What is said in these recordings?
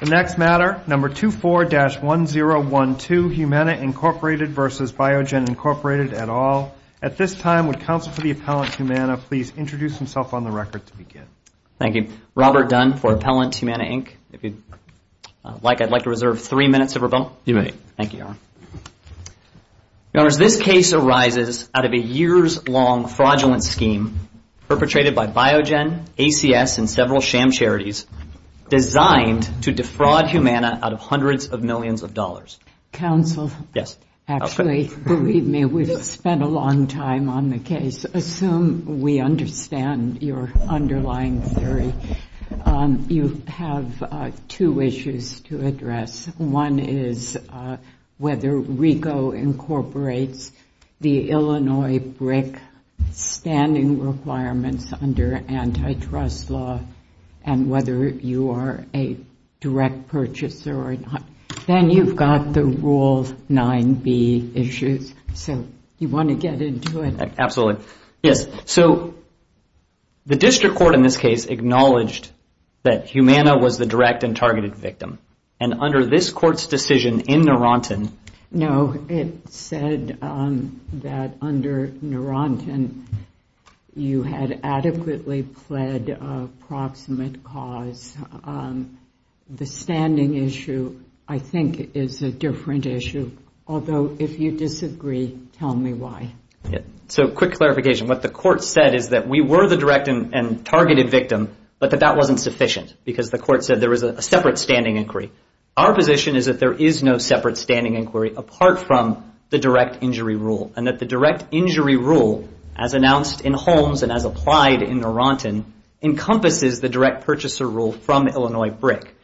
The next matter, number 24-1012, Humana, Inc. v. Biogen, Inc. et al. At this time, would counsel for the appellant, Humana, please introduce himself on the record to begin. Thank you. Robert Dunn for Appellant Humana, Inc. If you'd like, I'd like to reserve three minutes of your bill. You may. Thank you, Your Honor. Your Honors, this case arises out of a years-long fraudulent scheme perpetrated by Biogen, ACS, and several sham charities designed to defraud Humana out of hundreds of millions of dollars. Counsel. Yes. Actually, believe me, we've spent a long time on the case. Assume we understand your underlying theory. You have two issues to address. One is whether RICO incorporates the Illinois BRIC standing requirements under antitrust law and whether you are a direct purchaser or not. Then you've got the Rule 9b issues, so you want to get into it. Absolutely. Yes, so the district court in this case acknowledged that Humana was the direct and targeted victim. And under this court's decision in Naranton. No, it said that under Naranton, you had adequately pled a proximate cause. The standing issue, I think, is a different issue. Although, if you disagree, tell me why. So, quick clarification. What the court said is that we were the direct and targeted victim, but that that wasn't sufficient because the court said there was a separate standing inquiry. Our position is that there is no separate standing inquiry apart from the direct injury rule and that the direct injury rule, as announced in Holmes and as applied in Naranton, encompasses the direct purchaser rule from Illinois BRIC.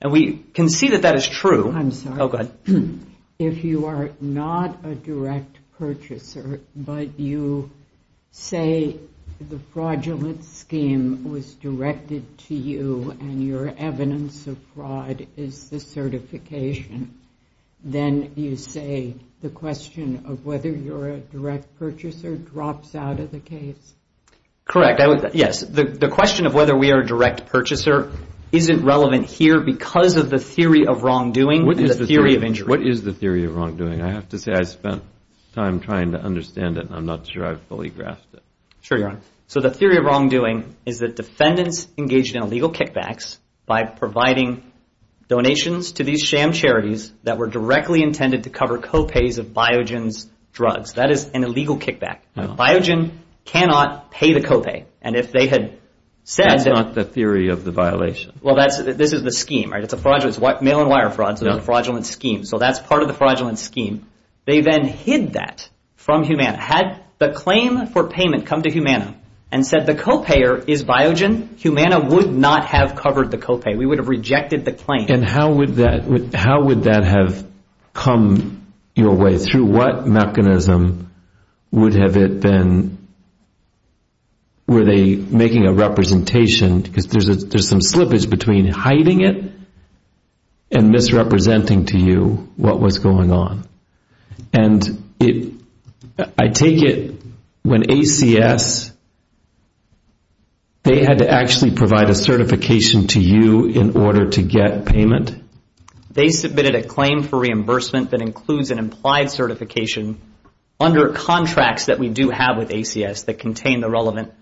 And we can see that that is true. I'm sorry. Oh, go ahead. If you are not a direct purchaser, but you say the fraudulent scheme was directed to you and your evidence of fraud is the certification, then you say the question of whether you're a direct purchaser drops out of the case? Correct, yes. The question of whether we are a direct purchaser isn't relevant here because of the theory of wrongdoing and the theory of injury. What is the theory of wrongdoing? I have to say I spent time trying to understand it, and I'm not sure I fully grasped it. Sure, Your Honor. So, the theory of wrongdoing is that defendants engaged in illegal kickbacks by providing donations to these sham charities that were directly intended to cover co-pays of Biogen's drugs. That is an illegal kickback. Biogen cannot pay the co-pay. And if they had said that... That's not the theory of the violation. Well, this is the scheme, right? It's mail-and-wire fraud, so the fraudulent scheme. So that's part of the fraudulent scheme. They then hid that from Humana. Had the claim for payment come to Humana and said the co-payer is Biogen, Humana would not have covered the co-pay. We would have rejected the claim. And how would that have come your way? Through what mechanism would have it been? Were they making a representation? Because there's some slippage between hiding it and misrepresenting to you what was going on. And I take it when ACS, they had to actually provide a certification to you in order to get payment? They submitted a claim for reimbursement that includes an implied certification under contracts that we do have with ACS that contain the relevant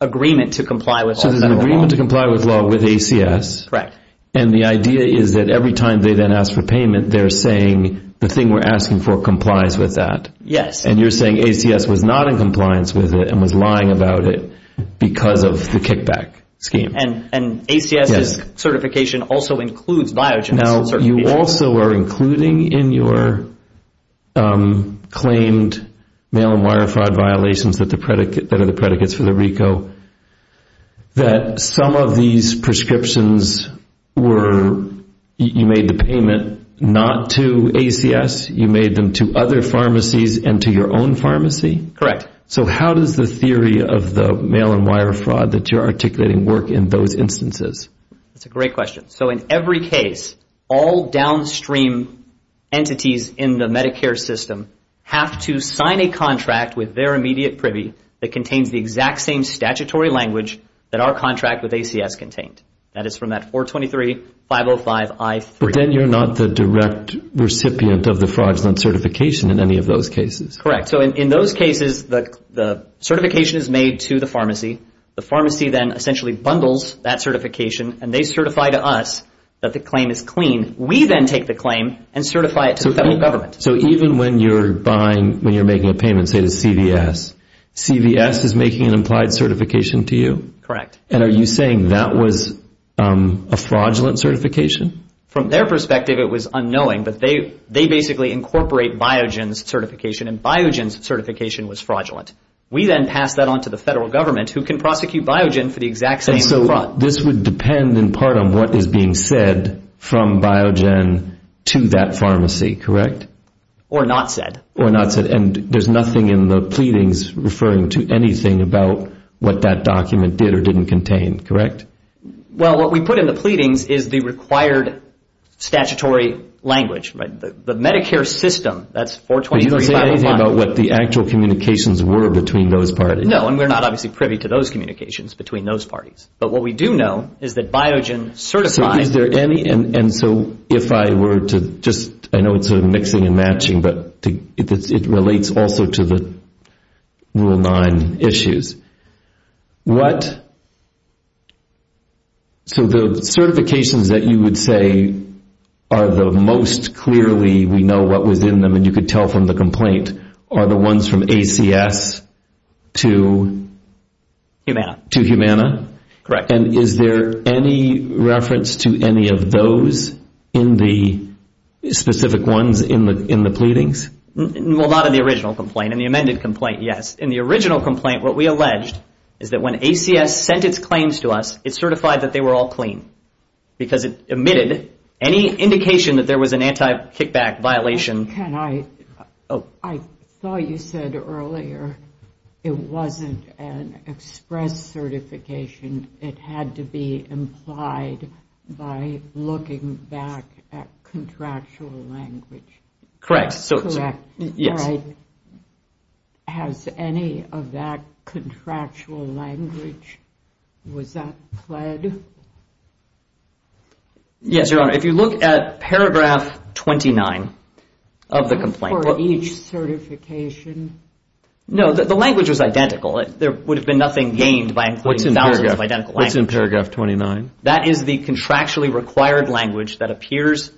agreement to comply with federal law. So there's an agreement to comply with law with ACS. Correct. And the idea is that every time they then ask for payment, they're saying the thing we're asking for complies with that. Yes. And you're saying ACS was not in compliance with it and was lying about it because of the kickback scheme. And ACS's certification also includes Biogen's certification. But you also are including in your claimed mail-and-wire fraud violations that are the predicates for the RICO that some of these prescriptions were you made the payment not to ACS, you made them to other pharmacies and to your own pharmacy? Correct. So how does the theory of the mail-and-wire fraud that you're articulating work in those instances? That's a great question. So in every case, all downstream entities in the Medicare system have to sign a contract with their immediate privy that contains the exact same statutory language that our contract with ACS contained. That is from that 423.505.I3. But then you're not the direct recipient of the fraudulent certification in any of those cases. Correct. So in those cases, the certification is made to the pharmacy. The pharmacy then essentially bundles that certification and they certify to us that the claim is clean. We then take the claim and certify it to the federal government. So even when you're buying, when you're making a payment, say to CVS, CVS is making an implied certification to you? Correct. And are you saying that was a fraudulent certification? From their perspective, it was unknowing, but they basically incorporate Biogen's certification and Biogen's certification was fraudulent. We then pass that on to the federal government who can prosecute Biogen for the exact same fraud. And so this would depend in part on what is being said from Biogen to that pharmacy, correct? Or not said. Or not said. And there's nothing in the pleadings referring to anything about what that document did or didn't contain, correct? Well, what we put in the pleadings is the required statutory language. The Medicare system, that's 423.505. It's not about what the actual communications were between those parties. No, and we're not obviously privy to those communications between those parties. But what we do know is that Biogen certifies. So is there any, and so if I were to just, I know it's sort of mixing and matching, but it relates also to the Rule 9 issues. What, so the certifications that you would say are the most clearly we know what was in them and you could tell from the complaint are the ones from ACS to? Humana. To Humana? Correct. And is there any reference to any of those in the specific ones in the pleadings? Well, not in the original complaint. In the amended complaint, yes. In the original complaint, what we alleged is that when ACS sent its claims to us, it certified that they were all clean. Because it omitted any indication that there was an anti-kickback violation. Can I, I thought you said earlier it wasn't an express certification. It had to be implied by looking back at contractual language. Correct. Has any of that contractual language, was that pled? Yes, Your Honor. If you look at paragraph 29 of the complaint. For each certification? No, the language was identical. There would have been nothing gained by including thousands of identical language. What's in paragraph 29? That is the contractually required language that appears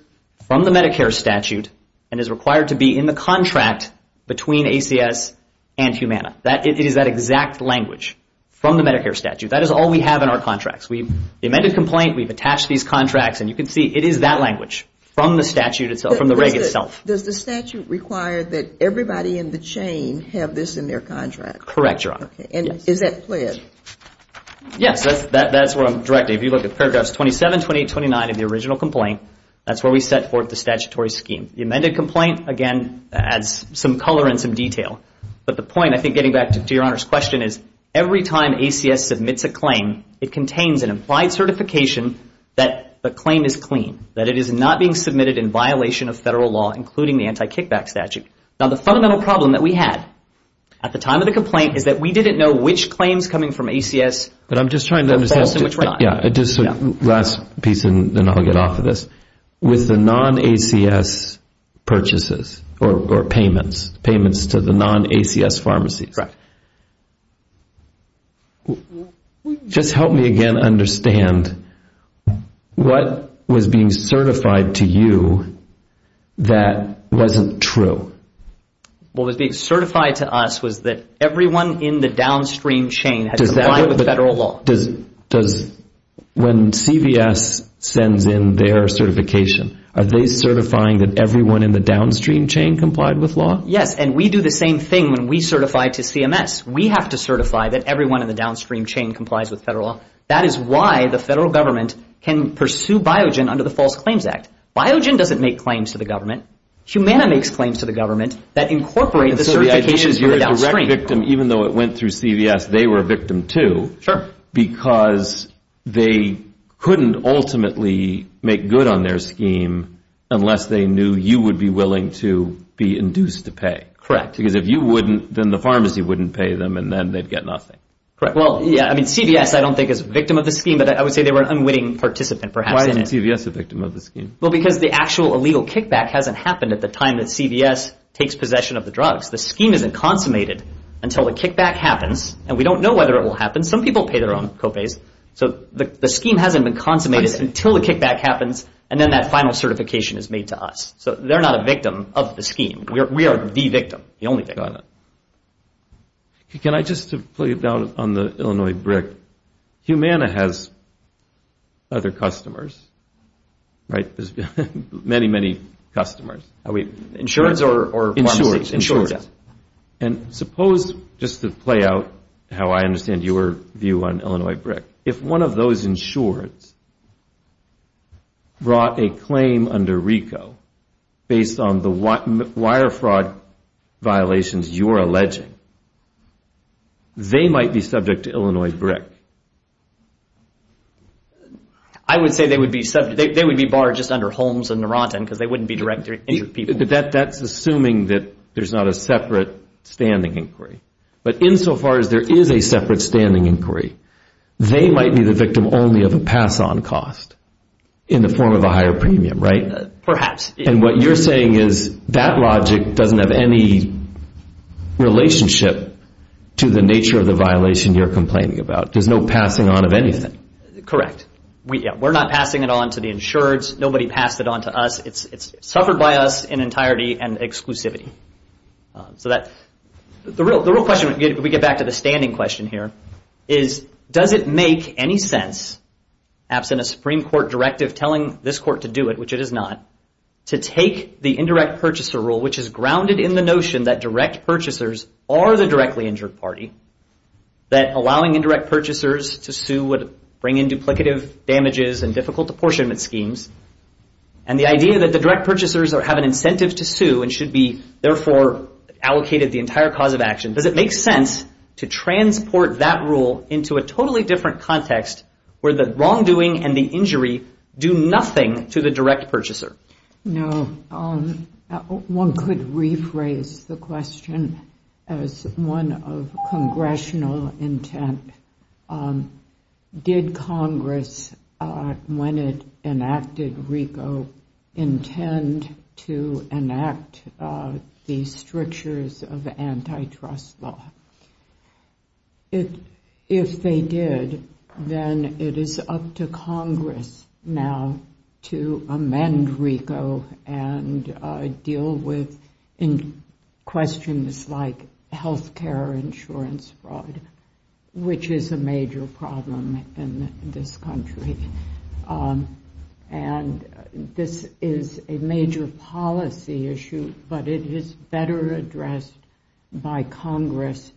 from the Medicare statute and is required to be in the contract between ACS and Humana. It is that exact language from the Medicare statute. That is all we have in our contracts. The amended complaint, we've attached these contracts, and you can see it is that language from the statute itself, from the reg itself. Does the statute require that everybody in the chain have this in their contract? Correct, Your Honor. And is that pled? Yes, that's where I'm directing. If you look at paragraphs 27, 28, 29 of the original complaint, that's where we set forth the statutory scheme. The amended complaint, again, adds some color and some detail. But the point, I think getting back to Your Honor's question, is every time ACS submits a claim, it contains an implied certification that the claim is clean, that it is not being submitted in violation of federal law, including the anti-kickback statute. Now, the fundamental problem that we had at the time of the complaint is that we didn't know which claims coming from ACS were false and which were not. Last piece, and then I'll get off of this. With the non-ACS purchases or payments, payments to the non-ACS pharmacies, that's correct. Just help me again understand. What was being certified to you that wasn't true? What was being certified to us was that everyone in the downstream chain had complied with federal law. When CVS sends in their certification, are they certifying that everyone in the downstream chain complied with law? Yes, and we do the same thing when we certify to CMS. We have to certify that everyone in the downstream chain complies with federal law. That is why the federal government can pursue Biogen under the False Claims Act. Biogen doesn't make claims to the government. Humana makes claims to the government that incorporate the certifications for the downstream. So the idea is you're a direct victim, even though it went through CVS, they were a victim too. Sure. Because they couldn't ultimately make good on their scheme unless they knew you would be willing to be induced to pay. Because if you wouldn't, then the pharmacy wouldn't pay them, and then they'd get nothing. Correct. Well, yeah, I mean CVS I don't think is a victim of the scheme, but I would say they were an unwitting participant perhaps. Why isn't CVS a victim of the scheme? Well, because the actual illegal kickback hasn't happened at the time that CVS takes possession of the drugs. The scheme isn't consummated until the kickback happens, and we don't know whether it will happen. Some people pay their own copays. So the scheme hasn't been consummated until the kickback happens, and then that final certification is made to us. So they're not a victim of the scheme. We are the victim, the only victim. Got it. Can I just play down on the Illinois BRIC? Humana has other customers, right? There's many, many customers. Insurance or pharmacies? And suppose, just to play out how I understand your view on Illinois BRIC, if one of those insureds brought a claim under RICO based on the wire fraud violations you're alleging, they might be subject to Illinois BRIC. I would say they would be barred just under Holmes and Narantan because they wouldn't be direct injury people. That's assuming that there's not a separate standing inquiry. But insofar as there is a separate standing inquiry, they might be the victim only of a pass-on cost in the form of a higher premium, right? Perhaps. And what you're saying is that logic doesn't have any relationship to the nature of the violation you're complaining about. There's no passing on of anything. Correct. We're not passing it on to the insureds. Nobody passed it on to us. It's suffered by us in entirety and exclusivity. So the real question, we get back to the standing question here, is does it make any sense, absent a Supreme Court directive telling this court to do it, which it is not, to take the indirect purchaser rule, which is grounded in the notion that direct purchasers are the directly injured party, that allowing indirect purchasers to sue would bring in duplicative damages and difficult apportionment schemes, and the idea that the direct purchasers have an incentive to sue and should be, therefore, allocated the entire cause of action, does it make sense to transport that rule into a totally different context where the wrongdoing and the injury do nothing to the direct purchaser? No. One could rephrase the question as one of congressional intent. Did Congress, when it enacted RICO, intend to enact the strictures of antitrust law? If they did, then it is up to Congress now to amend RICO and deal with questions like health care insurance fraud, which is a major problem in this country, and this is a major policy issue, but it is better addressed by Congress,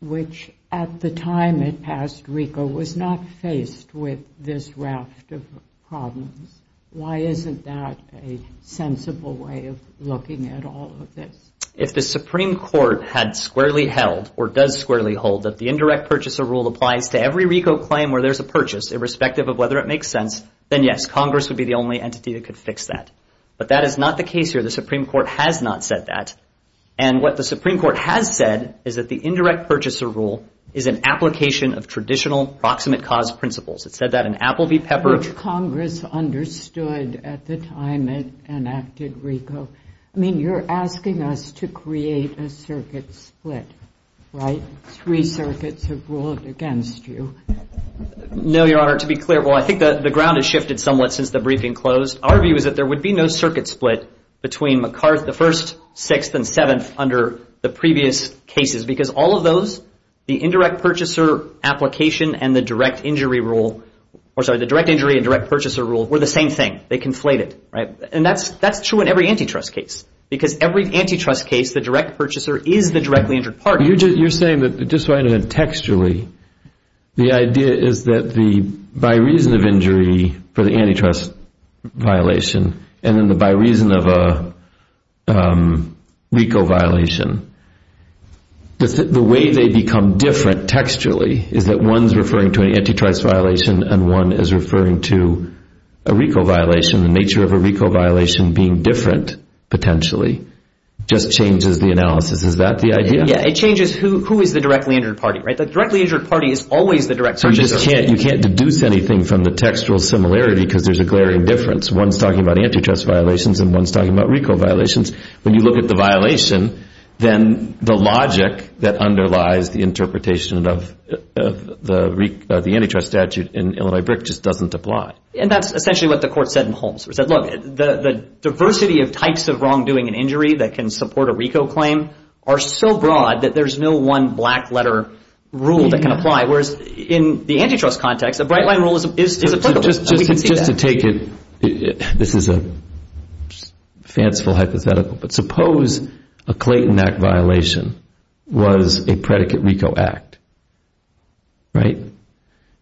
which at the time it passed RICO was not faced with this raft of problems. Why isn't that a sensible way of looking at all of this? If the Supreme Court had squarely held or does squarely hold that the indirect purchaser rule applies to every RICO claim where there's a purchase, irrespective of whether it makes sense, then yes, Congress would be the only entity that could fix that, but that is not the case here. The Supreme Court has not said that, and what the Supreme Court has said is that the indirect purchaser rule is an application of traditional proximate cause principles. It said that in Appleby Pepper. Congress understood at the time it enacted RICO. I mean, you're asking us to create a circuit split, right? Three circuits have ruled against you. No, Your Honor. To be clear, well, I think the ground has shifted somewhat since the briefing closed. Our view is that there would be no circuit split between McCarth, the first, sixth, and seventh under the previous cases because all of those, the indirect purchaser application and the direct injury rule, or sorry, the direct injury and direct purchaser rule were the same thing. They conflated, right? And that's true in every antitrust case because every antitrust case the direct purchaser is the directly injured party. You're saying that, just so I understand textually, the idea is that by reason of injury for the antitrust violation and then by reason of a RICO violation, the way they become different textually is that one is referring to an antitrust violation and one is referring to a RICO violation. The nature of a RICO violation being different potentially just changes the analysis. Is that the idea? Yeah. It changes who is the directly injured party, right? The directly injured party is always the direct purchaser. So you can't deduce anything from the textual similarity because there's a glaring difference. One's talking about antitrust violations and one's talking about RICO violations. When you look at the violation, then the logic that underlies the interpretation of the antitrust statute in Illinois BRIC just doesn't apply. And that's essentially what the court said in Holmes. It said, look, the diversity of types of wrongdoing and injury that can support a RICO claim are so broad that there's no one black letter rule that can apply, whereas in the antitrust context a bright line rule is applicable. Just to take it, this is a fanciful hypothetical, but suppose a Clayton Act violation was a predicate RICO act, right?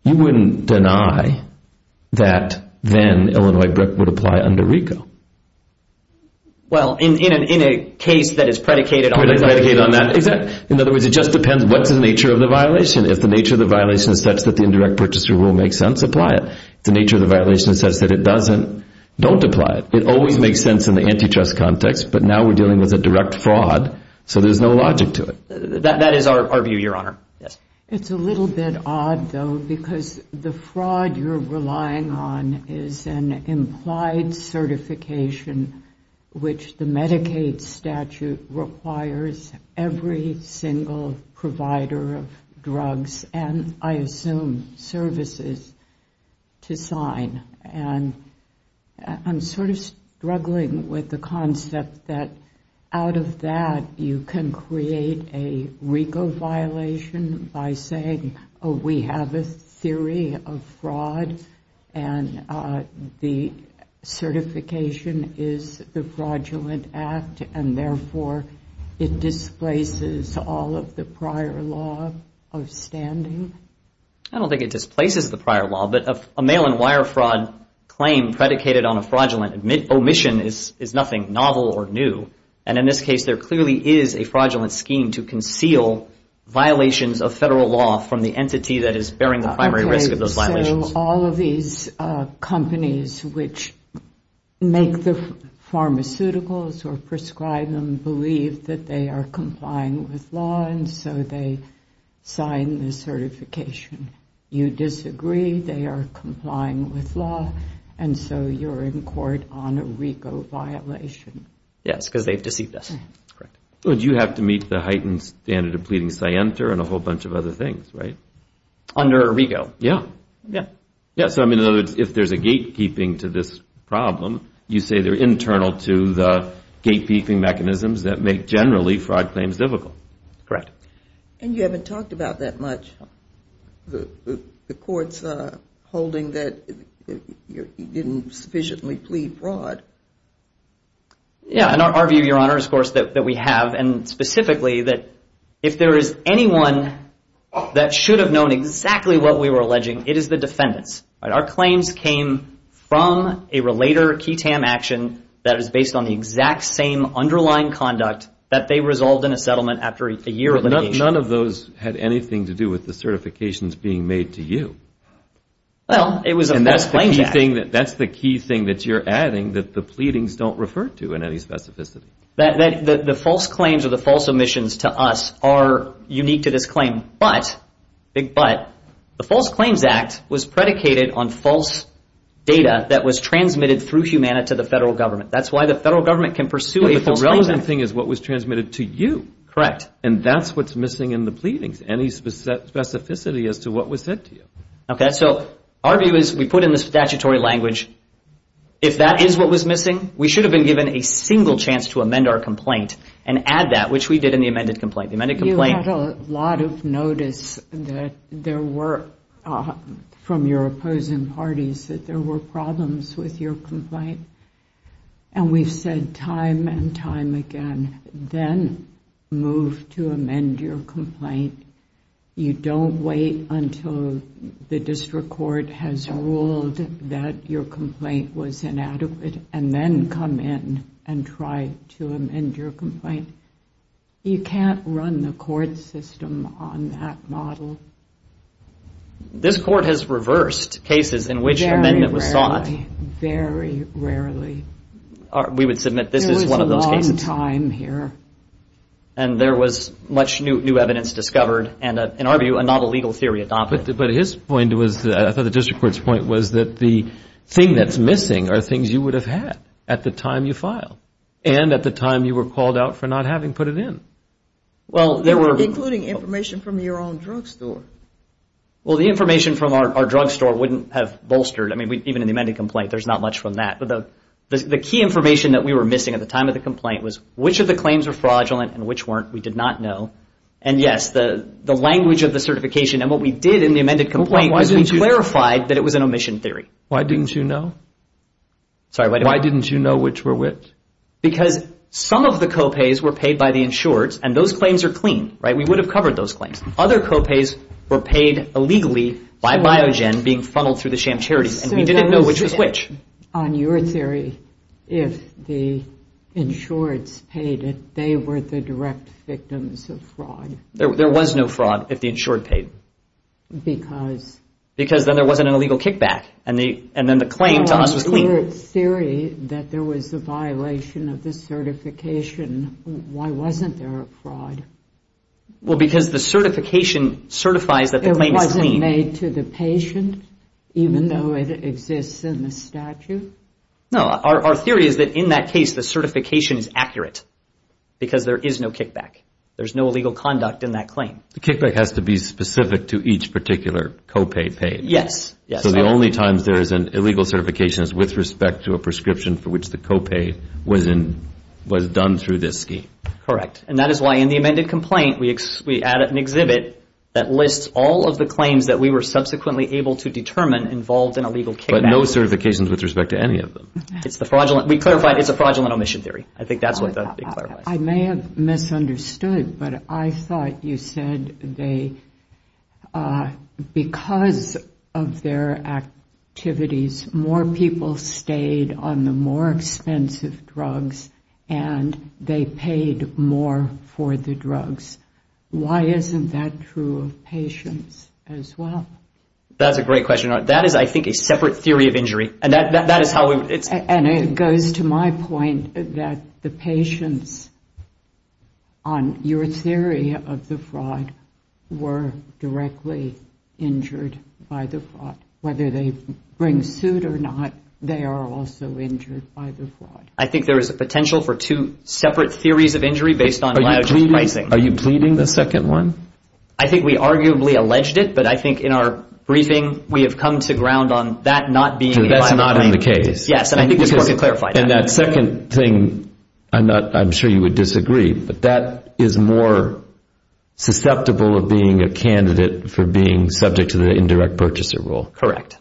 You wouldn't deny that then Illinois BRIC would apply under RICO. Well, in a case that is predicated on that. Predicated on that. Exactly. In other words, it just depends what's the nature of the violation. If the nature of the violation is such that the indirect purchaser rule makes sense, apply it. If the nature of the violation is such that it doesn't, don't apply it. It always makes sense in the antitrust context, but now we're dealing with a direct fraud, so there's no logic to it. That is our view, Your Honor. It's a little bit odd, though, because the fraud you're relying on is an implied certification which the Medicaid statute requires every single provider of drugs and, I assume, services to sign. I'm sort of struggling with the concept that out of that you can create a RICO violation by saying, oh, we have a theory of fraud and the certification is the fraudulent act and, therefore, it displaces all of the prior law of standing. I don't think it displaces the prior law, but a mail-and-wire fraud claim predicated on a fraudulent omission is nothing novel or new. And in this case, there clearly is a fraudulent scheme to conceal violations of federal law from the entity that is bearing the primary risk of those violations. Okay, so all of these companies which make the pharmaceuticals or prescribe them believe that they are complying with law and so they sign the certification. You disagree, they are complying with law, and so you're in court on a RICO violation. Yes, because they've deceived us. Correct. But you have to meet the heightened standard of pleading scienter and a whole bunch of other things, right? Under a RICO. Yeah. Yeah. So, I mean, in other words, if there's a gatekeeping to this problem, you say they're internal to the gatekeeping mechanisms that make generally fraud claims difficult. And you haven't talked about that much, the courts holding that you didn't sufficiently plead fraud. Yeah, in our view, Your Honor, of course, that we have, and specifically that if there is anyone that should have known exactly what we were alleging, it is the defendants. Our claims came from a relator key TAM action that is based on the exact same underlying conduct that they resolved in a settlement after a year of litigation. None of those had anything to do with the certifications being made to you. Well, it was a false claims act. And that's the key thing that you're adding that the pleadings don't refer to in any specificity. The false claims or the false omissions to us are unique to this claim. But, big but, the false claims act was predicated on false data that was transmitted through Humana to the federal government. That's why the federal government can pursue a false claims act. But the relevant thing is what was transmitted to you. Correct. And that's what's missing in the pleadings, any specificity as to what was said to you. Okay. So, our view is we put in the statutory language, if that is what was missing, we should have been given a single chance to amend our complaint and add that, which we did in the amended complaint. You had a lot of notice that there were, from your opposing parties, that there were problems with your complaint. And we've said time and time again, then move to amend your complaint. You don't wait until the district court has ruled that your complaint was inadequate, and then come in and try to amend your complaint. You can't run the court system on that model. This court has reversed cases in which an amendment was sought. Very rarely, very rarely. We would submit this is one of those cases. There was a long time here. And there was much new evidence discovered and, in our view, a novel legal theory adopted. But his point was, I thought the district court's point was that the thing that's missing are things you would have had at the time you filed. And at the time you were called out for not having put it in. Including information from your own drugstore. Well, the information from our drugstore wouldn't have bolstered. I mean, even in the amended complaint, there's not much from that. But the key information that we were missing at the time of the complaint was which of the claims were fraudulent and which weren't. We did not know. And, yes, the language of the certification and what we did in the amended complaint was we clarified that it was an omission theory. Why didn't you know? Sorry, wait a minute. Why didn't you know which were which? Because some of the co-pays were paid by the insureds. And those claims are clean, right? We would have covered those claims. Other co-pays were paid illegally by Biogen being funneled through the sham charities. And we didn't know which was which. On your theory, if the insureds paid it, they were the direct victims of fraud. There was no fraud if the insured paid. Because? Because then there wasn't an illegal kickback. And then the claim to us was clean. Your theory that there was a violation of the certification, why wasn't there a fraud? Well, because the certification certifies that the claim is clean. It wasn't made to the patient, even though it exists in the statute? No. Our theory is that in that case, the certification is accurate because there is no kickback. There's no illegal conduct in that claim. The kickback has to be specific to each particular co-pay paid. Yes. So the only time there is an illegal certification is with respect to a prescription for which the co-pay was done through this scheme. Correct. And that is why in the amended complaint, we add an exhibit that lists all of the claims that we were subsequently able to determine involved in a legal kickback. But no certifications with respect to any of them. We clarified it's a fraudulent omission theory. I think that's what's being clarified. I may have misunderstood, but I thought you said because of their activities, more people stayed on the more expensive drugs and they paid more for the drugs. Why isn't that true of patients as well? That's a great question. That is, I think, a separate theory of injury. And it goes to my point that the patients, on your theory of the fraud, were directly injured by the fraud. Whether they bring suit or not, they are also injured by the fraud. I think there is a potential for two separate theories of injury based on my pricing. Are you pleading the second one? I think we arguably alleged it, but I think in our briefing, we have come to ground on that not being a lie. That's not in the case. Yes, and I think we just want to clarify that. And that second thing, I'm sure you would disagree, but that is more susceptible of being a candidate for being subject to the indirect purchaser rule. Correct.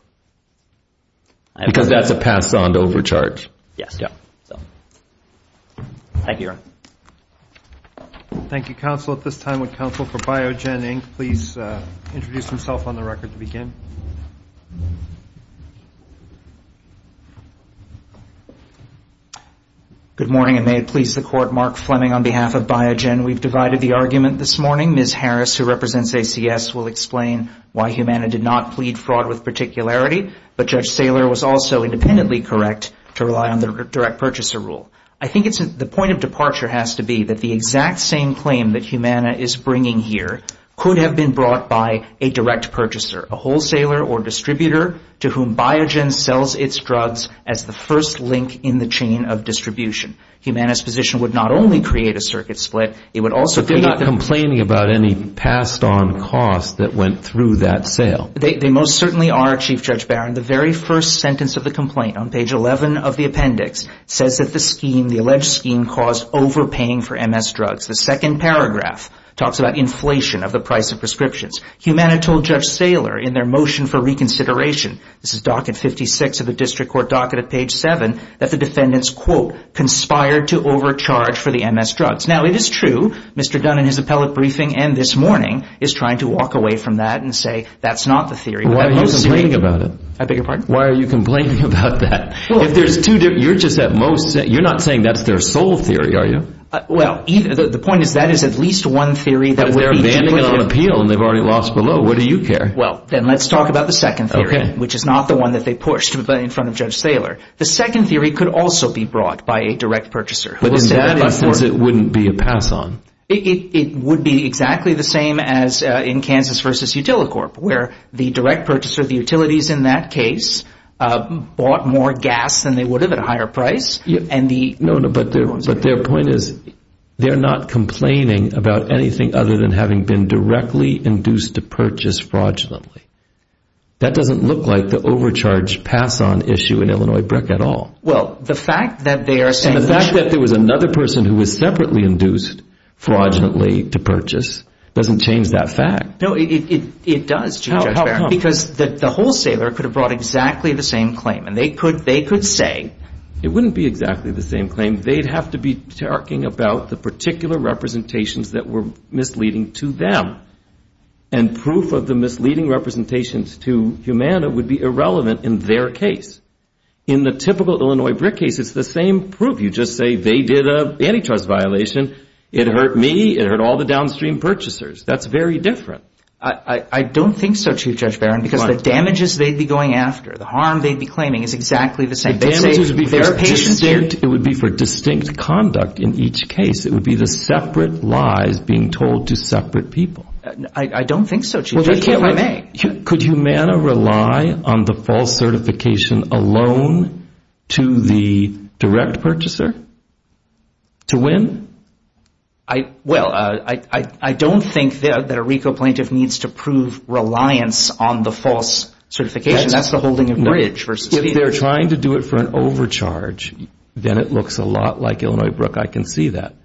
Because that's a pass on to overcharge. Yes. Thank you. Thank you, counsel. At this time, would counsel for Biogen, Inc., please introduce himself on the record to begin? Good morning, and may it please the Court, Mark Fleming on behalf of Biogen. We've divided the argument this morning. Ms. Harris, who represents ACS, will explain why Humana did not plead fraud with particularity, but Judge Saylor was also independently correct to rely on the direct purchaser rule. I think the point of departure has to be that the exact same claim that Humana is bringing here could have been brought by a direct purchaser, a wholesaler or distributor, to whom Biogen sells its drugs as the first link in the chain of distribution. Humana's position would not only create a circuit split, it would also create a But they're not complaining about any passed on costs that went through that sale. They most certainly are, Chief Judge Barron. And the very first sentence of the complaint, on page 11 of the appendix, says that the scheme, the alleged scheme, caused overpaying for MS drugs. The second paragraph talks about inflation of the price of prescriptions. Humana told Judge Saylor in their motion for reconsideration, this is docket 56 of the district court docket at page 7, that the defendants, quote, conspired to overcharge for the MS drugs. Now, it is true Mr. Dunn in his appellate briefing and this morning is trying to walk away from that and say that's not the theory. Why are you complaining about it? I beg your pardon? Why are you complaining about that? If there's two different, you're just at most, you're not saying that's their sole theory, are you? Well, the point is that is at least one theory. But if they're abandoning it on appeal and they've already lost below, what do you care? Well, then let's talk about the second theory, which is not the one that they pushed in front of Judge Saylor. The second theory could also be brought by a direct purchaser. But in that instance it wouldn't be a pass on. It would be exactly the same as in Kansas v. Utilicorp, where the direct purchaser of the utilities in that case bought more gas than they would have at a higher price. No, but their point is they're not complaining about anything other than having been directly induced to purchase fraudulently. That doesn't look like the overcharge pass on issue in Illinois brick at all. Well, the fact that they are saying And the fact that there was another person who was separately induced fraudulently to purchase doesn't change that fact. No, it does, Judge Barron, because the wholesaler could have brought exactly the same claim. And they could say It wouldn't be exactly the same claim. They'd have to be talking about the particular representations that were misleading to them. And proof of the misleading representations to Humana would be irrelevant in their case. In the typical Illinois brick case, it's the same proof. You just say they did an antitrust violation. It hurt me. It hurt all the downstream purchasers. That's very different. I don't think so, Chief Judge Barron, because the damages they'd be going after, the harm they'd be claiming is exactly the same. The damages would be for distinct conduct in each case. It would be the separate lies being told to separate people. I don't think so, Chief Judge, if I may. Could Humana rely on the false certification alone to the direct purchaser to win? Well, I don't think that a RICO plaintiff needs to prove reliance on the false certification. That's the holding of the bridge. If they're trying to do it for an overcharge, then it looks a lot like Illinois brick. I can see that.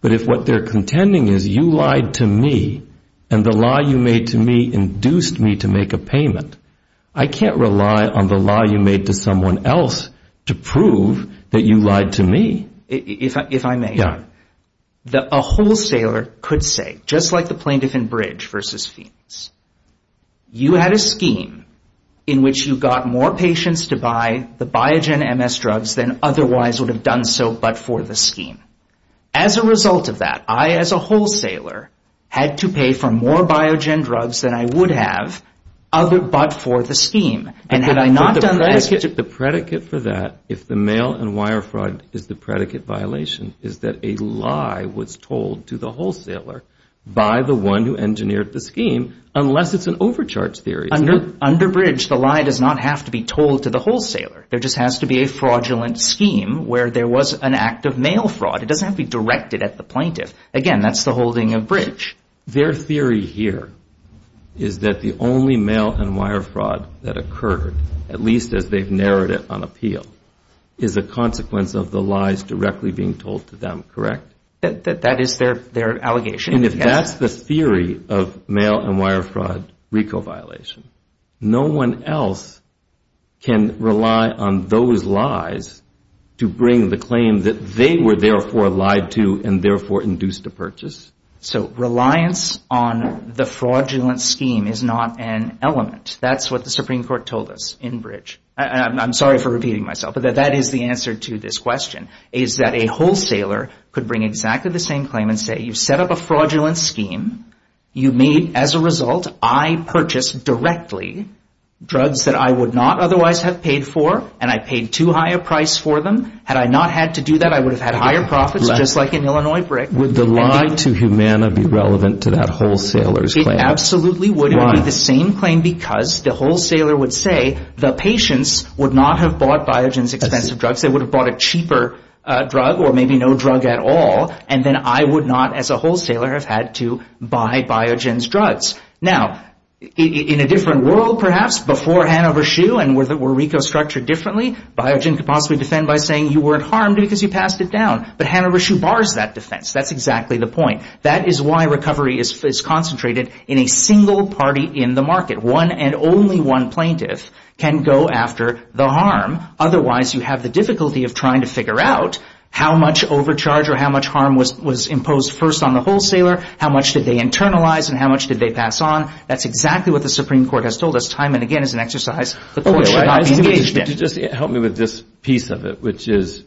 But if what they're contending is you lied to me and the law you made to me induced me to make a payment, I can't rely on the law you made to someone else to prove that you lied to me. If I may, a wholesaler could say, just like the plaintiff in Bridge v. Fiends, you had a scheme in which you got more patients to buy the Biogen MS drugs than otherwise would have done so but for the scheme. As a result of that, I as a wholesaler had to pay for more Biogen drugs than I would have but for the scheme. The predicate for that, if the mail and wire fraud is the predicate violation, is that a lie was told to the wholesaler by the one who engineered the scheme unless it's an overcharge theory. Under Bridge, the lie does not have to be told to the wholesaler. There just has to be a fraudulent scheme where there was an act of mail fraud. It doesn't have to be directed at the plaintiff. Again, that's the holding of Bridge. Their theory here is that the only mail and wire fraud that occurred, at least as they've narrowed it on appeal, is a consequence of the lies directly being told to them, correct? That is their allegation. And if that's the theory of mail and wire fraud RICO violation, no one else can rely on those lies to bring the claim that they were therefore lied to and therefore induced a purchase? So reliance on the fraudulent scheme is not an element. That's what the Supreme Court told us in Bridge. And I'm sorry for repeating myself, but that is the answer to this question, is that a wholesaler could bring exactly the same claim and say, you set up a fraudulent scheme. You made, as a result, I purchased directly drugs that I would not otherwise have paid for and I paid too high a price for them. Had I not had to do that, I would have had higher profits just like an Illinois brick. Would the lie to Humana be relevant to that wholesaler's claim? It absolutely would. It would be the same claim because the wholesaler would say, the patients would not have bought Biogen's expensive drugs. They would have bought a cheaper drug or maybe no drug at all. And then I would not, as a wholesaler, have had to buy Biogen's drugs. Now, in a different world, perhaps, before Hanover Shoe and where RICO structured differently, Biogen could possibly defend by saying you weren't harmed because you passed it down. But Hanover Shoe bars that defense. That's exactly the point. That is why recovery is concentrated in a single party in the market. One and only one plaintiff can go after the harm. Otherwise, you have the difficulty of trying to figure out how much overcharge or how much harm was imposed first on the wholesaler, how much did they internalize and how much did they pass on. That's exactly what the Supreme Court has told us time and again as an exercise the court should not be engaged in. Could you just help me with this piece of it, which is,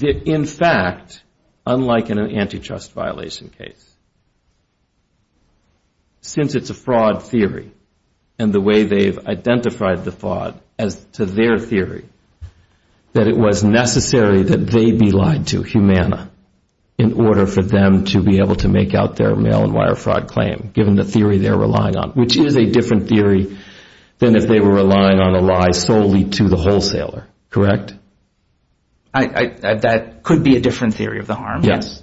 in fact, unlike in an antitrust violation case, since it's a fraud theory and the way they've identified the fraud as to their theory, that it was necessary that they be lied to, Humana, in order for them to be able to make out their mail-and-wire fraud claim, given the theory they're relying on, which is a different theory than if they were relying on a lie solely to the wholesaler. Correct? That could be a different theory of the harm. Yes.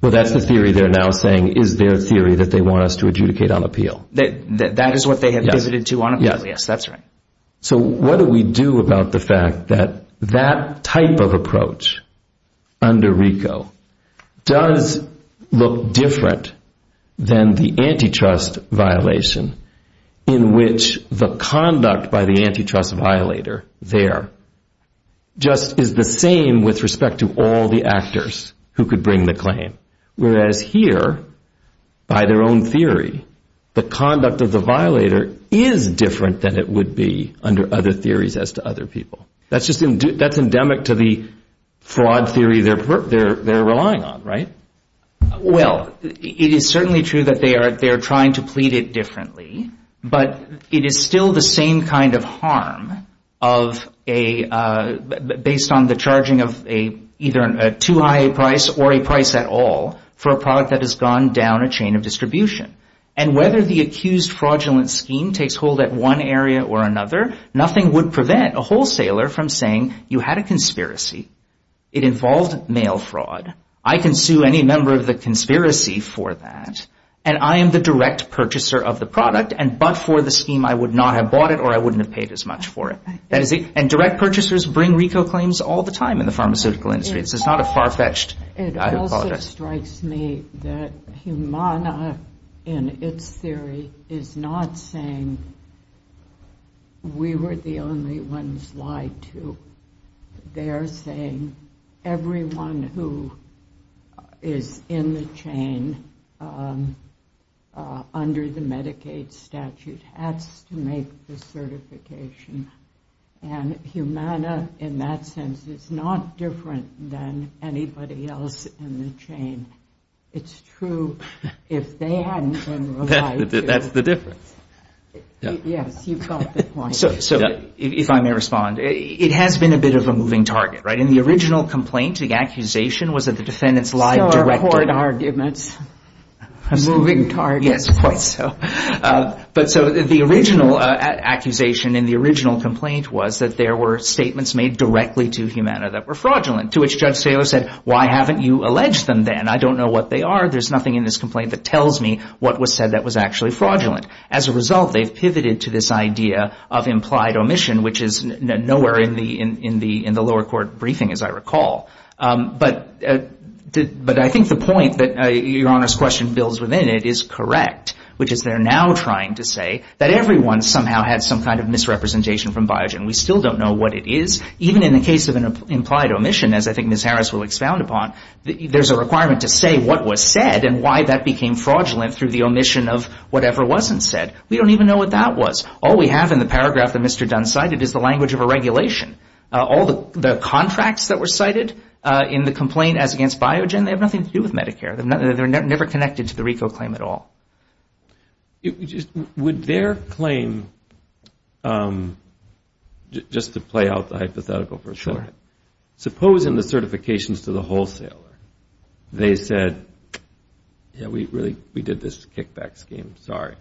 Well, that's the theory they're now saying is their theory that they want us to adjudicate on appeal. That is what they have pivoted to on appeal. Yes. Yes, that's right. So what do we do about the fact that that type of approach under RICO does look different than the antitrust violation in which the conduct by the antitrust violator there just is the same with respect to all the actors who could bring the claim, whereas here, by their own theory, the conduct of the violator is different than it would be under other theories as to other people. That's endemic to the fraud theory they're relying on, right? Well, it is certainly true that they are trying to plead it differently, but it is still the same kind of harm based on the charging of either a too high a price or a price at all for a product that has gone down a chain of distribution. And whether the accused fraudulent scheme takes hold at one area or another, nothing would prevent a wholesaler from saying you had a conspiracy. It involved mail fraud. I can sue any member of the conspiracy for that, and I am the direct purchaser of the product, but for the scheme I would not have bought it or I wouldn't have paid as much for it. And direct purchasers bring RICO claims all the time in the pharmaceutical industry. It's not a far-fetched project. It also strikes me that Humana, in its theory, is not saying we were the only ones lied to. They are saying everyone who is in the chain under the Medicaid statute has to make the certification. And Humana, in that sense, is not different than anybody else in the chain. It's true if they hadn't been lied to. That's the difference. Yes, you've got the point. So if I may respond, it has been a bit of a moving target, right? In the original complaint, the accusation was that the defendants lied directly. So are court arguments. Moving targets. Yes, quite so. But so the original accusation in the original complaint was that there were statements made directly to Humana that were fraudulent, to which Judge Saylor said, why haven't you alleged them then? I don't know what they are. There's nothing in this complaint that tells me what was said that was actually fraudulent. As a result, they've pivoted to this idea of implied omission, which is nowhere in the lower court briefing, as I recall. But I think the point that Your Honor's question builds within it is correct, which is they're now trying to say that everyone somehow had some kind of misrepresentation from Biogen. We still don't know what it is. Even in the case of an implied omission, as I think Ms. Harris will expound upon, there's a requirement to say what was said and why that became fraudulent through the omission of whatever wasn't said. We don't even know what that was. All we have in the paragraph that Mr. Dunn cited is the language of a regulation. All the contracts that were cited in the complaint as against Biogen, they have nothing to do with Medicare. They're never connected to the RICO claim at all. Would their claim, just to play out the hypothetical for a second, suppose in the certifications to the wholesaler they said, yeah, we did this kickback scheme, sorry.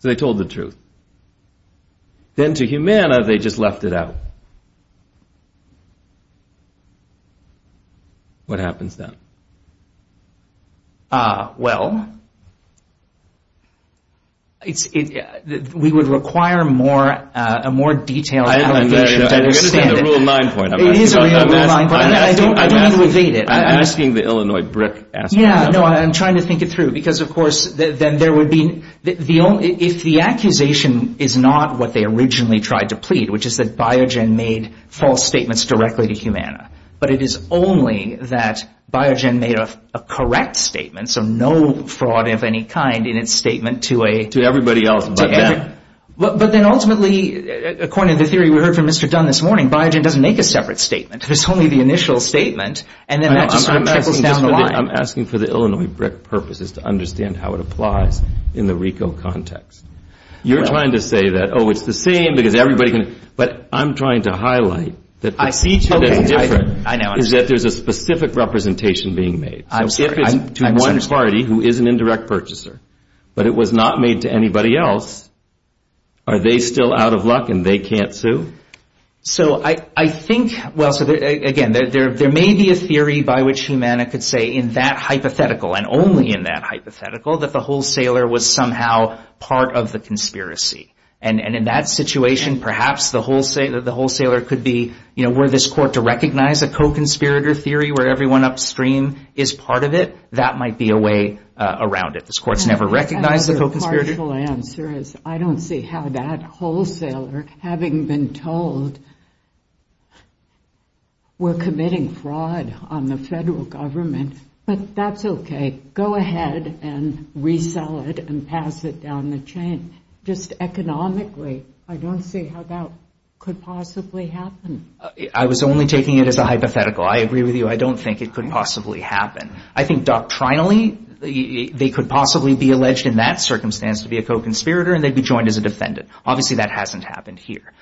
So they told the truth. Then to Humana, they just left it out. What happens then? Well, we would require a more detailed allegation to understand it. I understand the Rule 9 point. It is a Rule 9 point. I don't mean to evade it. I'm asking the Illinois brick asker. Yeah, no, I'm trying to think it through because, of course, if the accusation is not what they originally tried to plead, which is that Biogen made false statements directly to Humana, but it is only that Biogen made a correct statement, so no fraud of any kind in its statement to a ‑‑ To everybody else but them. But then ultimately, according to the theory we heard from Mr. Dunn this morning, Biogen doesn't make a separate statement. There's only the initial statement, and then that just sort of trickles down the line. I'm asking for the Illinois brick purposes to understand how it applies in the RICO context. You're trying to say that, oh, it's the same because everybody can ‑‑ I'm trying to highlight that the feature that's different is that there's a specific representation being made. So if it's to one party who is an indirect purchaser, but it was not made to anybody else, are they still out of luck and they can't sue? So I think, well, again, there may be a theory by which Humana could say in that hypothetical and only in that hypothetical that the wholesaler was somehow part of the conspiracy. And in that situation, perhaps the wholesaler could be, you know, were this court to recognize a co‑conspirator theory where everyone upstream is part of it, that might be a way around it. This court's never recognized the co‑conspirator. Partial answer is I don't see how that wholesaler, having been told, we're committing fraud on the federal government, but that's okay. Go ahead and resell it and pass it down the chain. Just economically, I don't see how that could possibly happen. I was only taking it as a hypothetical. I agree with you. I don't think it could possibly happen. I think doctrinally they could possibly be alleged in that circumstance to be a co‑conspirator and they'd be joined as a defendant. Obviously that hasn't happened here.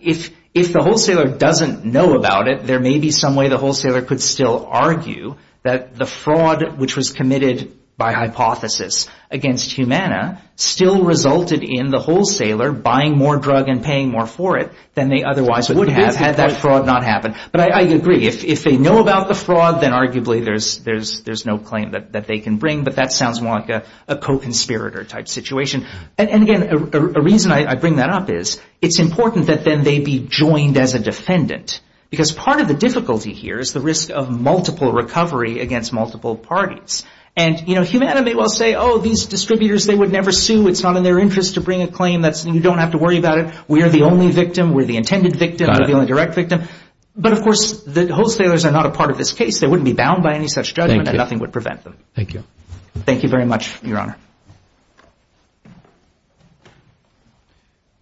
If the wholesaler doesn't know about it, there may be some way the wholesaler could still argue that the fraud which was committed by hypothesis against Humana still resulted in the wholesaler buying more drug and paying more for it than they otherwise would have had that fraud not happened. But I agree. If they know about the fraud, then arguably there's no claim that they can bring, but that sounds more like a co‑conspirator type situation. And, again, a reason I bring that up is it's important that then they be joined as a defendant because part of the difficulty here is the risk of multiple recovery against multiple parties. And, you know, Humana may well say, oh, these distributors, they would never sue. It's not in their interest to bring a claim. You don't have to worry about it. We are the only victim. We're the intended victim. We're the only direct victim. But, of course, the wholesalers are not a part of this case. They wouldn't be bound by any such judgment and nothing would prevent them. Thank you. Thank you very much, Your Honor.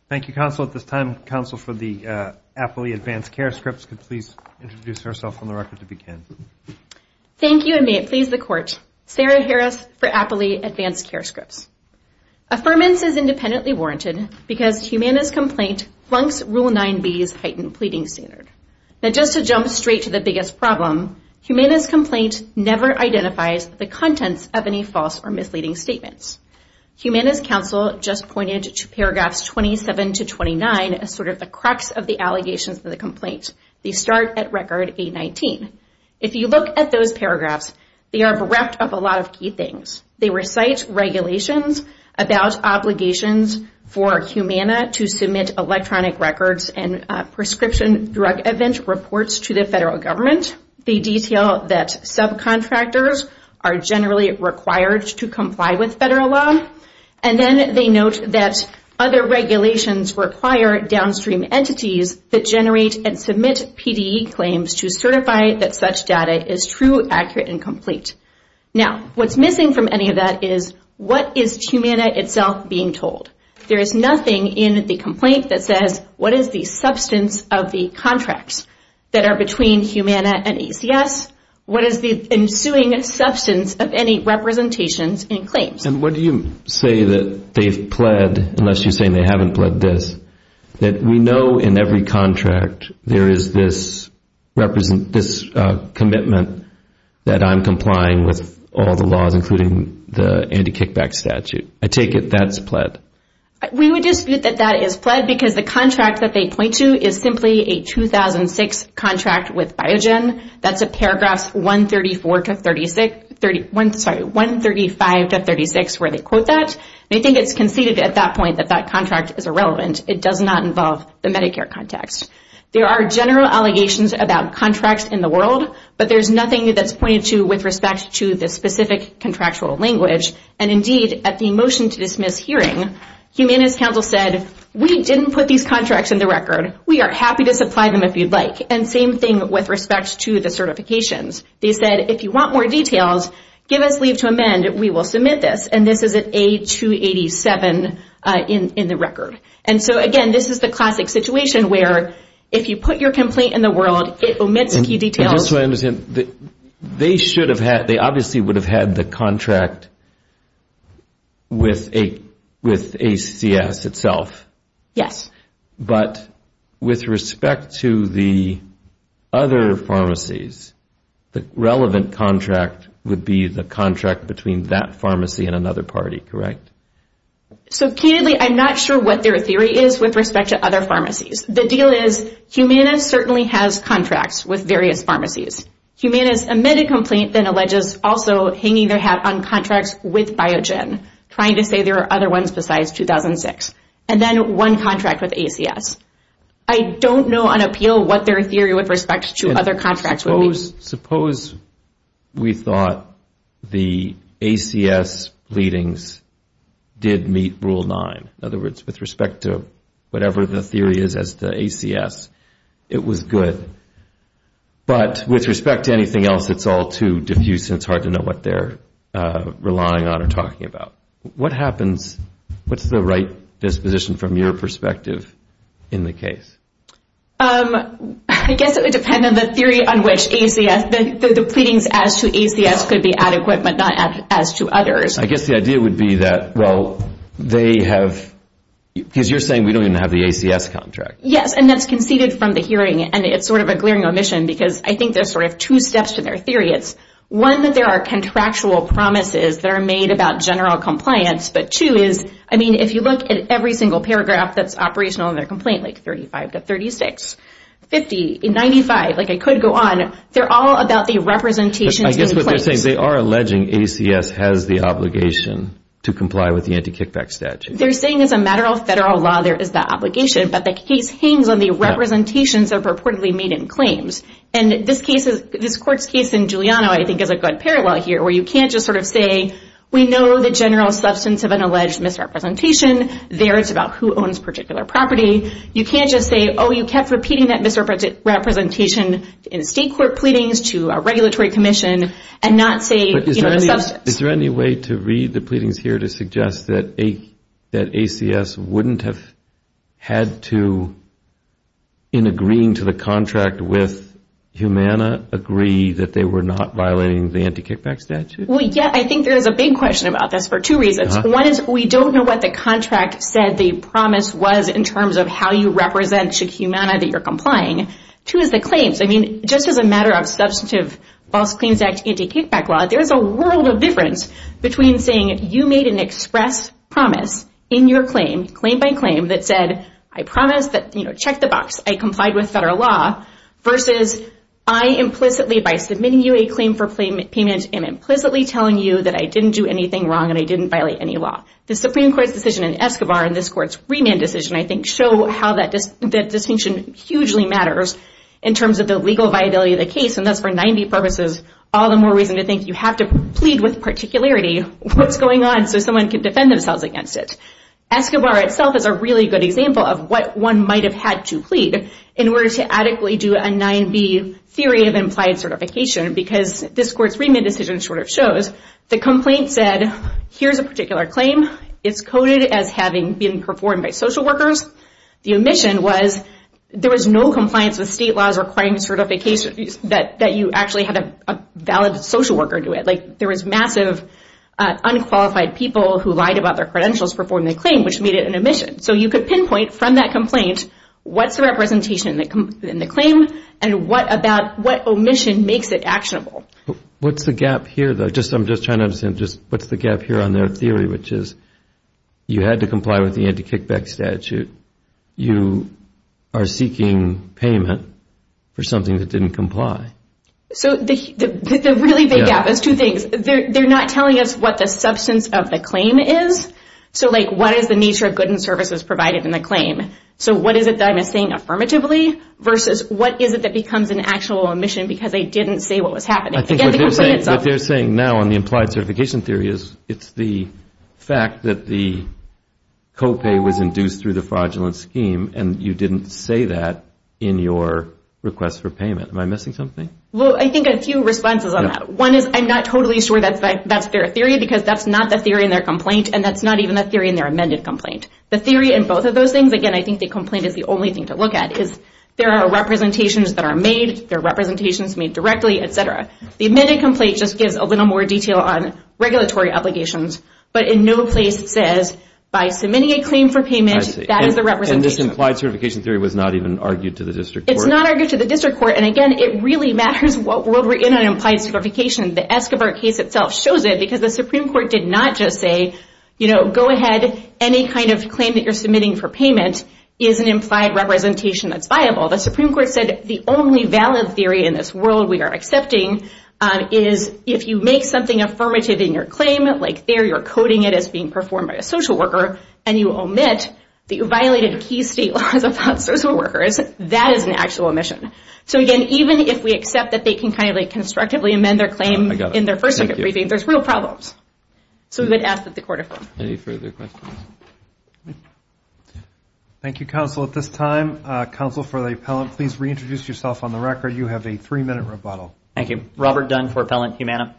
Thank you, Counsel. At this time, Counsel for the Appley Advanced Care Scripts could please introduce herself on the record to begin. Thank you, and may it please the Court. Sarah Harris for Appley Advanced Care Scripts. Affirmance is independently warranted because Humana's complaint flunks Rule 9B's heightened pleading standard. Now, just to jump straight to the biggest problem, Humana's complaint never identifies the contents of any false or misleading statement. Humana's counsel just pointed to Paragraphs 27 to 29 as sort of the crux of the allegations of the complaint. They start at Record A-19. If you look at those paragraphs, they are wrapped up a lot of key things. They recite regulations about obligations for Humana to submit electronic records and prescription drug event reports to the federal government. They detail that subcontractors are generally required to comply with federal law, and then they note that other regulations require downstream entities that generate and submit PDE claims to certify that such data is true, accurate, and complete. Now, what's missing from any of that is what is Humana itself being told? There is nothing in the complaint that says what is the substance of the contracts that are between Humana and ACS? What is the ensuing substance of any representations and claims? And what do you say that they've pled, unless you're saying they haven't pled this, that we know in every contract there is this commitment that I'm complying with all the laws, including the anti-kickback statute? I take it that's pled. We would dispute that that is pled because the contract that they point to is simply a 2006 contract with Biogen. That's at paragraphs 134 to 36, sorry, 135 to 36, where they quote that. They think it's conceded at that point that that contract is irrelevant. It does not involve the Medicare context. There are general allegations about contracts in the world, but there's nothing that's pointed to with respect to the specific contractual language. And, indeed, at the motion to dismiss hearing, Humana's counsel said, we didn't put these contracts in the record. We are happy to supply them if you'd like. And same thing with respect to the certifications. They said, if you want more details, give us leave to amend. We will submit this. And this is at A287 in the record. And so, again, this is the classic situation where if you put your complaint in the world, it omits key details. Just so I understand, they obviously would have had the contract with ACS itself. Yes. But with respect to the other pharmacies, the relevant contract would be the contract between that pharmacy and another party, correct? So, keynotely, I'm not sure what their theory is with respect to other pharmacies. The deal is, Humana certainly has contracts with various pharmacies. Humana's amended complaint then alleges also hanging their hat on contracts with Biogen, trying to say there are other ones besides 2006. And then one contract with ACS. I don't know on appeal what their theory with respect to other contracts would be. Suppose we thought the ACS leadings did meet Rule 9. In other words, with respect to whatever the theory is as to ACS, it was good. But with respect to anything else, it's all too diffuse and it's hard to know what they're relying on or talking about. What happens, what's the right disposition from your perspective in the case? I guess it would depend on the theory on which ACS, the leadings as to ACS could be adequate but not as to others. I guess the idea would be that, well, they have, because you're saying we don't even have the ACS contract. Yes, and that's conceded from the hearing and it's sort of a glaring omission because I think there's sort of two steps to their theory. It's one that there are contractual promises that are made about general compliance, but two is, I mean, if you look at every single paragraph that's operational in their complaint, like 35 to 36, 50, 95, like I could go on, they're all about the representations in place. So you're saying they are alleging ACS has the obligation to comply with the anti-kickback statute. They're saying as a matter of federal law there is that obligation, but the case hangs on the representations that are purportedly made in claims. And this court's case in Giuliano I think is a good parallel here where you can't just sort of say we know the general substance of an alleged misrepresentation. There it's about who owns particular property. You can't just say, oh, you kept repeating that misrepresentation in state court pleadings to a regulatory commission and not say, you know, substance. But is there any way to read the pleadings here to suggest that ACS wouldn't have had to, in agreeing to the contract with Humana, agree that they were not violating the anti-kickback statute? Well, yeah, I think there is a big question about this for two reasons. One is we don't know what the contract said the promise was in terms of how you represent Humana that you're complying. Two is the claims. I mean, just as a matter of substantive false claims act anti-kickback law, there is a world of difference between saying you made an express promise in your claim, claim by claim, that said I promise that, you know, check the box, I complied with federal law versus I implicitly by submitting you a claim for payment am implicitly telling you that I didn't do anything wrong and I didn't violate any law. The Supreme Court's decision in Escobar and this court's remand decision I think show how that distinction hugely matters in terms of the legal viability of the case, and that's for 9B purposes all the more reason to think you have to plead with particularity. What's going on so someone can defend themselves against it? Escobar itself is a really good example of what one might have had to plead in order to adequately do a 9B theory of implied certification because this court's remand decision sort of shows the complaint said, here's a particular claim, it's coded as having been performed by social workers. The omission was there was no compliance with state laws requiring certification that you actually had a valid social worker do it. Like there was massive unqualified people who lied about their credentials performing the claim which made it an omission. So you could pinpoint from that complaint what's the representation in the claim and what omission makes it actionable. What's the gap here though? I'm just trying to understand what's the gap here on their theory which is you had to comply with the anti-kickback statute. You are seeking payment for something that didn't comply. So the really big gap is two things. They're not telling us what the substance of the claim is. So like what is the nature of goods and services provided in the claim? So what is it that I'm saying affirmatively versus what is it that becomes an actual omission because they didn't say what was happening? What they're saying now on the implied certification theory is it's the fact that the copay was induced through the fraudulent scheme and you didn't say that in your request for payment. Am I missing something? Well, I think a few responses on that. One is I'm not totally sure that's their theory because that's not the theory in their complaint and that's not even the theory in their amended complaint. The theory in both of those things, again, I think the complaint is the only thing to look at because there are representations that are made. There are representations made directly, et cetera. The amended complaint just gives a little more detail on regulatory obligations, but in no place says by submitting a claim for payment, that is the representation. And this implied certification theory was not even argued to the district court? It's not argued to the district court. And, again, it really matters what world we're in on implied certification. The Escobar case itself shows it because the Supreme Court did not just say, you know, go ahead, any kind of claim that you're submitting for payment is an implied representation that's viable. The Supreme Court said the only valid theory in this world we are accepting is if you make something affirmative in your claim, like there you're coding it as being performed by a social worker, and you omit the violated key state laws about social workers, that is an actual omission. So, again, even if we accept that they can constructively amend their claim in their first second briefing, there's real problems. So we would ask that the court approve. Any further questions? Thank you, counsel. At this time, counsel for the appellant, please reintroduce yourself on the record. You have a three-minute rebuttal. Thank you. Robert Dunn for Appellant Humana.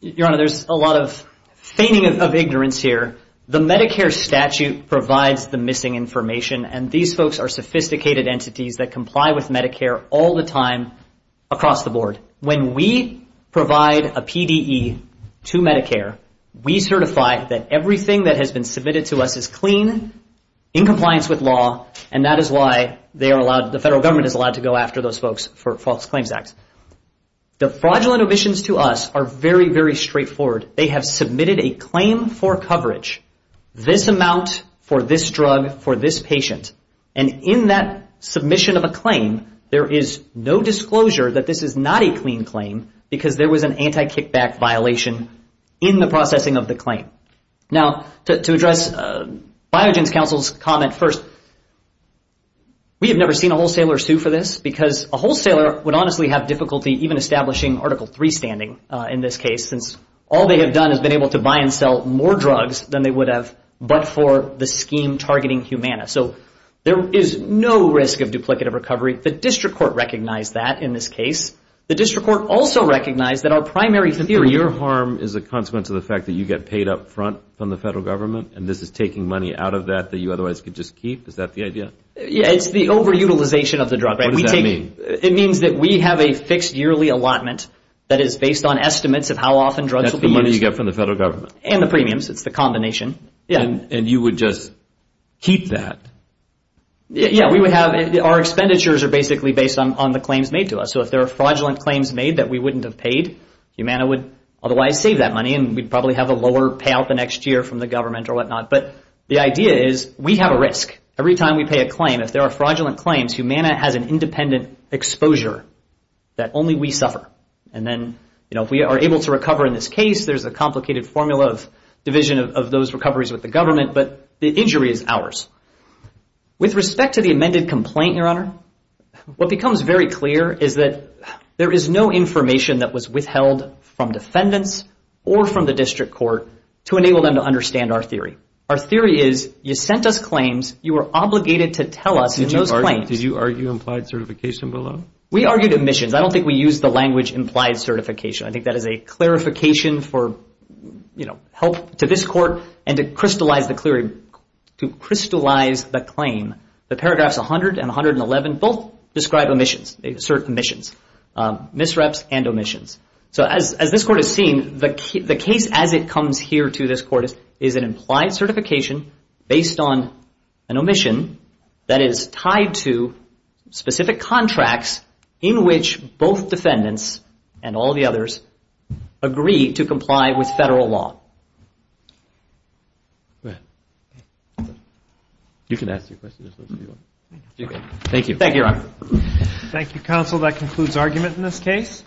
Your Honor, there's a lot of feigning of ignorance here. The Medicare statute provides the missing information, and these folks are sophisticated entities that comply with Medicare all the time across the board. When we provide a PDE to Medicare, we certify that everything that has been submitted to us is clean, in compliance with law, and that is why they are allowed, the federal government is allowed to go after those folks for false claims acts. The fraudulent omissions to us are very, very straightforward. They have submitted a claim for coverage, this amount for this drug for this patient, and in that submission of a claim, there is no disclosure that this is not a clean claim because there was an anti-kickback violation in the processing of the claim. Now, to address Biogen's counsel's comment first, we have never seen a wholesaler sue for this because a wholesaler would honestly have difficulty even establishing Article III standing in this case since all they have done is been able to buy and sell more drugs than they would have but for the scheme targeting Humana. So there is no risk of duplicative recovery. The district court recognized that in this case. The district court also recognized that our primary theory... Your harm is a consequence of the fact that you get paid up front from the federal government and this is taking money out of that that you otherwise could just keep? Is that the idea? Yeah, it's the over-utilization of the drug. What does that mean? It means that we have a fixed yearly allotment that is based on estimates of how often drugs will be used. That's the money you get from the federal government. And the premiums. It's the combination. And you would just keep that? Yeah, we would have... Our expenditures are basically based on the claims made to us. So if there are fraudulent claims made that we wouldn't have paid, Humana would otherwise save that money and we'd probably have a lower payout the next year from the government or whatnot. But the idea is we have a risk. Every time we pay a claim, if there are fraudulent claims, Humana has an independent exposure that only we suffer. And then, you know, if we are able to recover in this case, there's a complicated formula of division of those recoveries with the government, but the injury is ours. With respect to the amended complaint, Your Honor, what becomes very clear is that there is no information that was withheld from defendants or from the district court to enable them to understand our theory. Our theory is you sent us claims. You were obligated to tell us in those claims. Did you argue implied certification below? We argued admissions. I don't think we used the language implied certification. I think that is a clarification for, you know, help to this court and to crystallize the claim. The paragraphs 100 and 111 both describe omissions, certain omissions, misreps and omissions. So as this court has seen, the case as it comes here to this court is an implied certification based on an omission that is tied to specific contracts in which both defendants and all the others agree to comply with federal law. You can ask your questions. Thank you. Thank you, Your Honor. Thank you, counsel. That concludes argument in this case.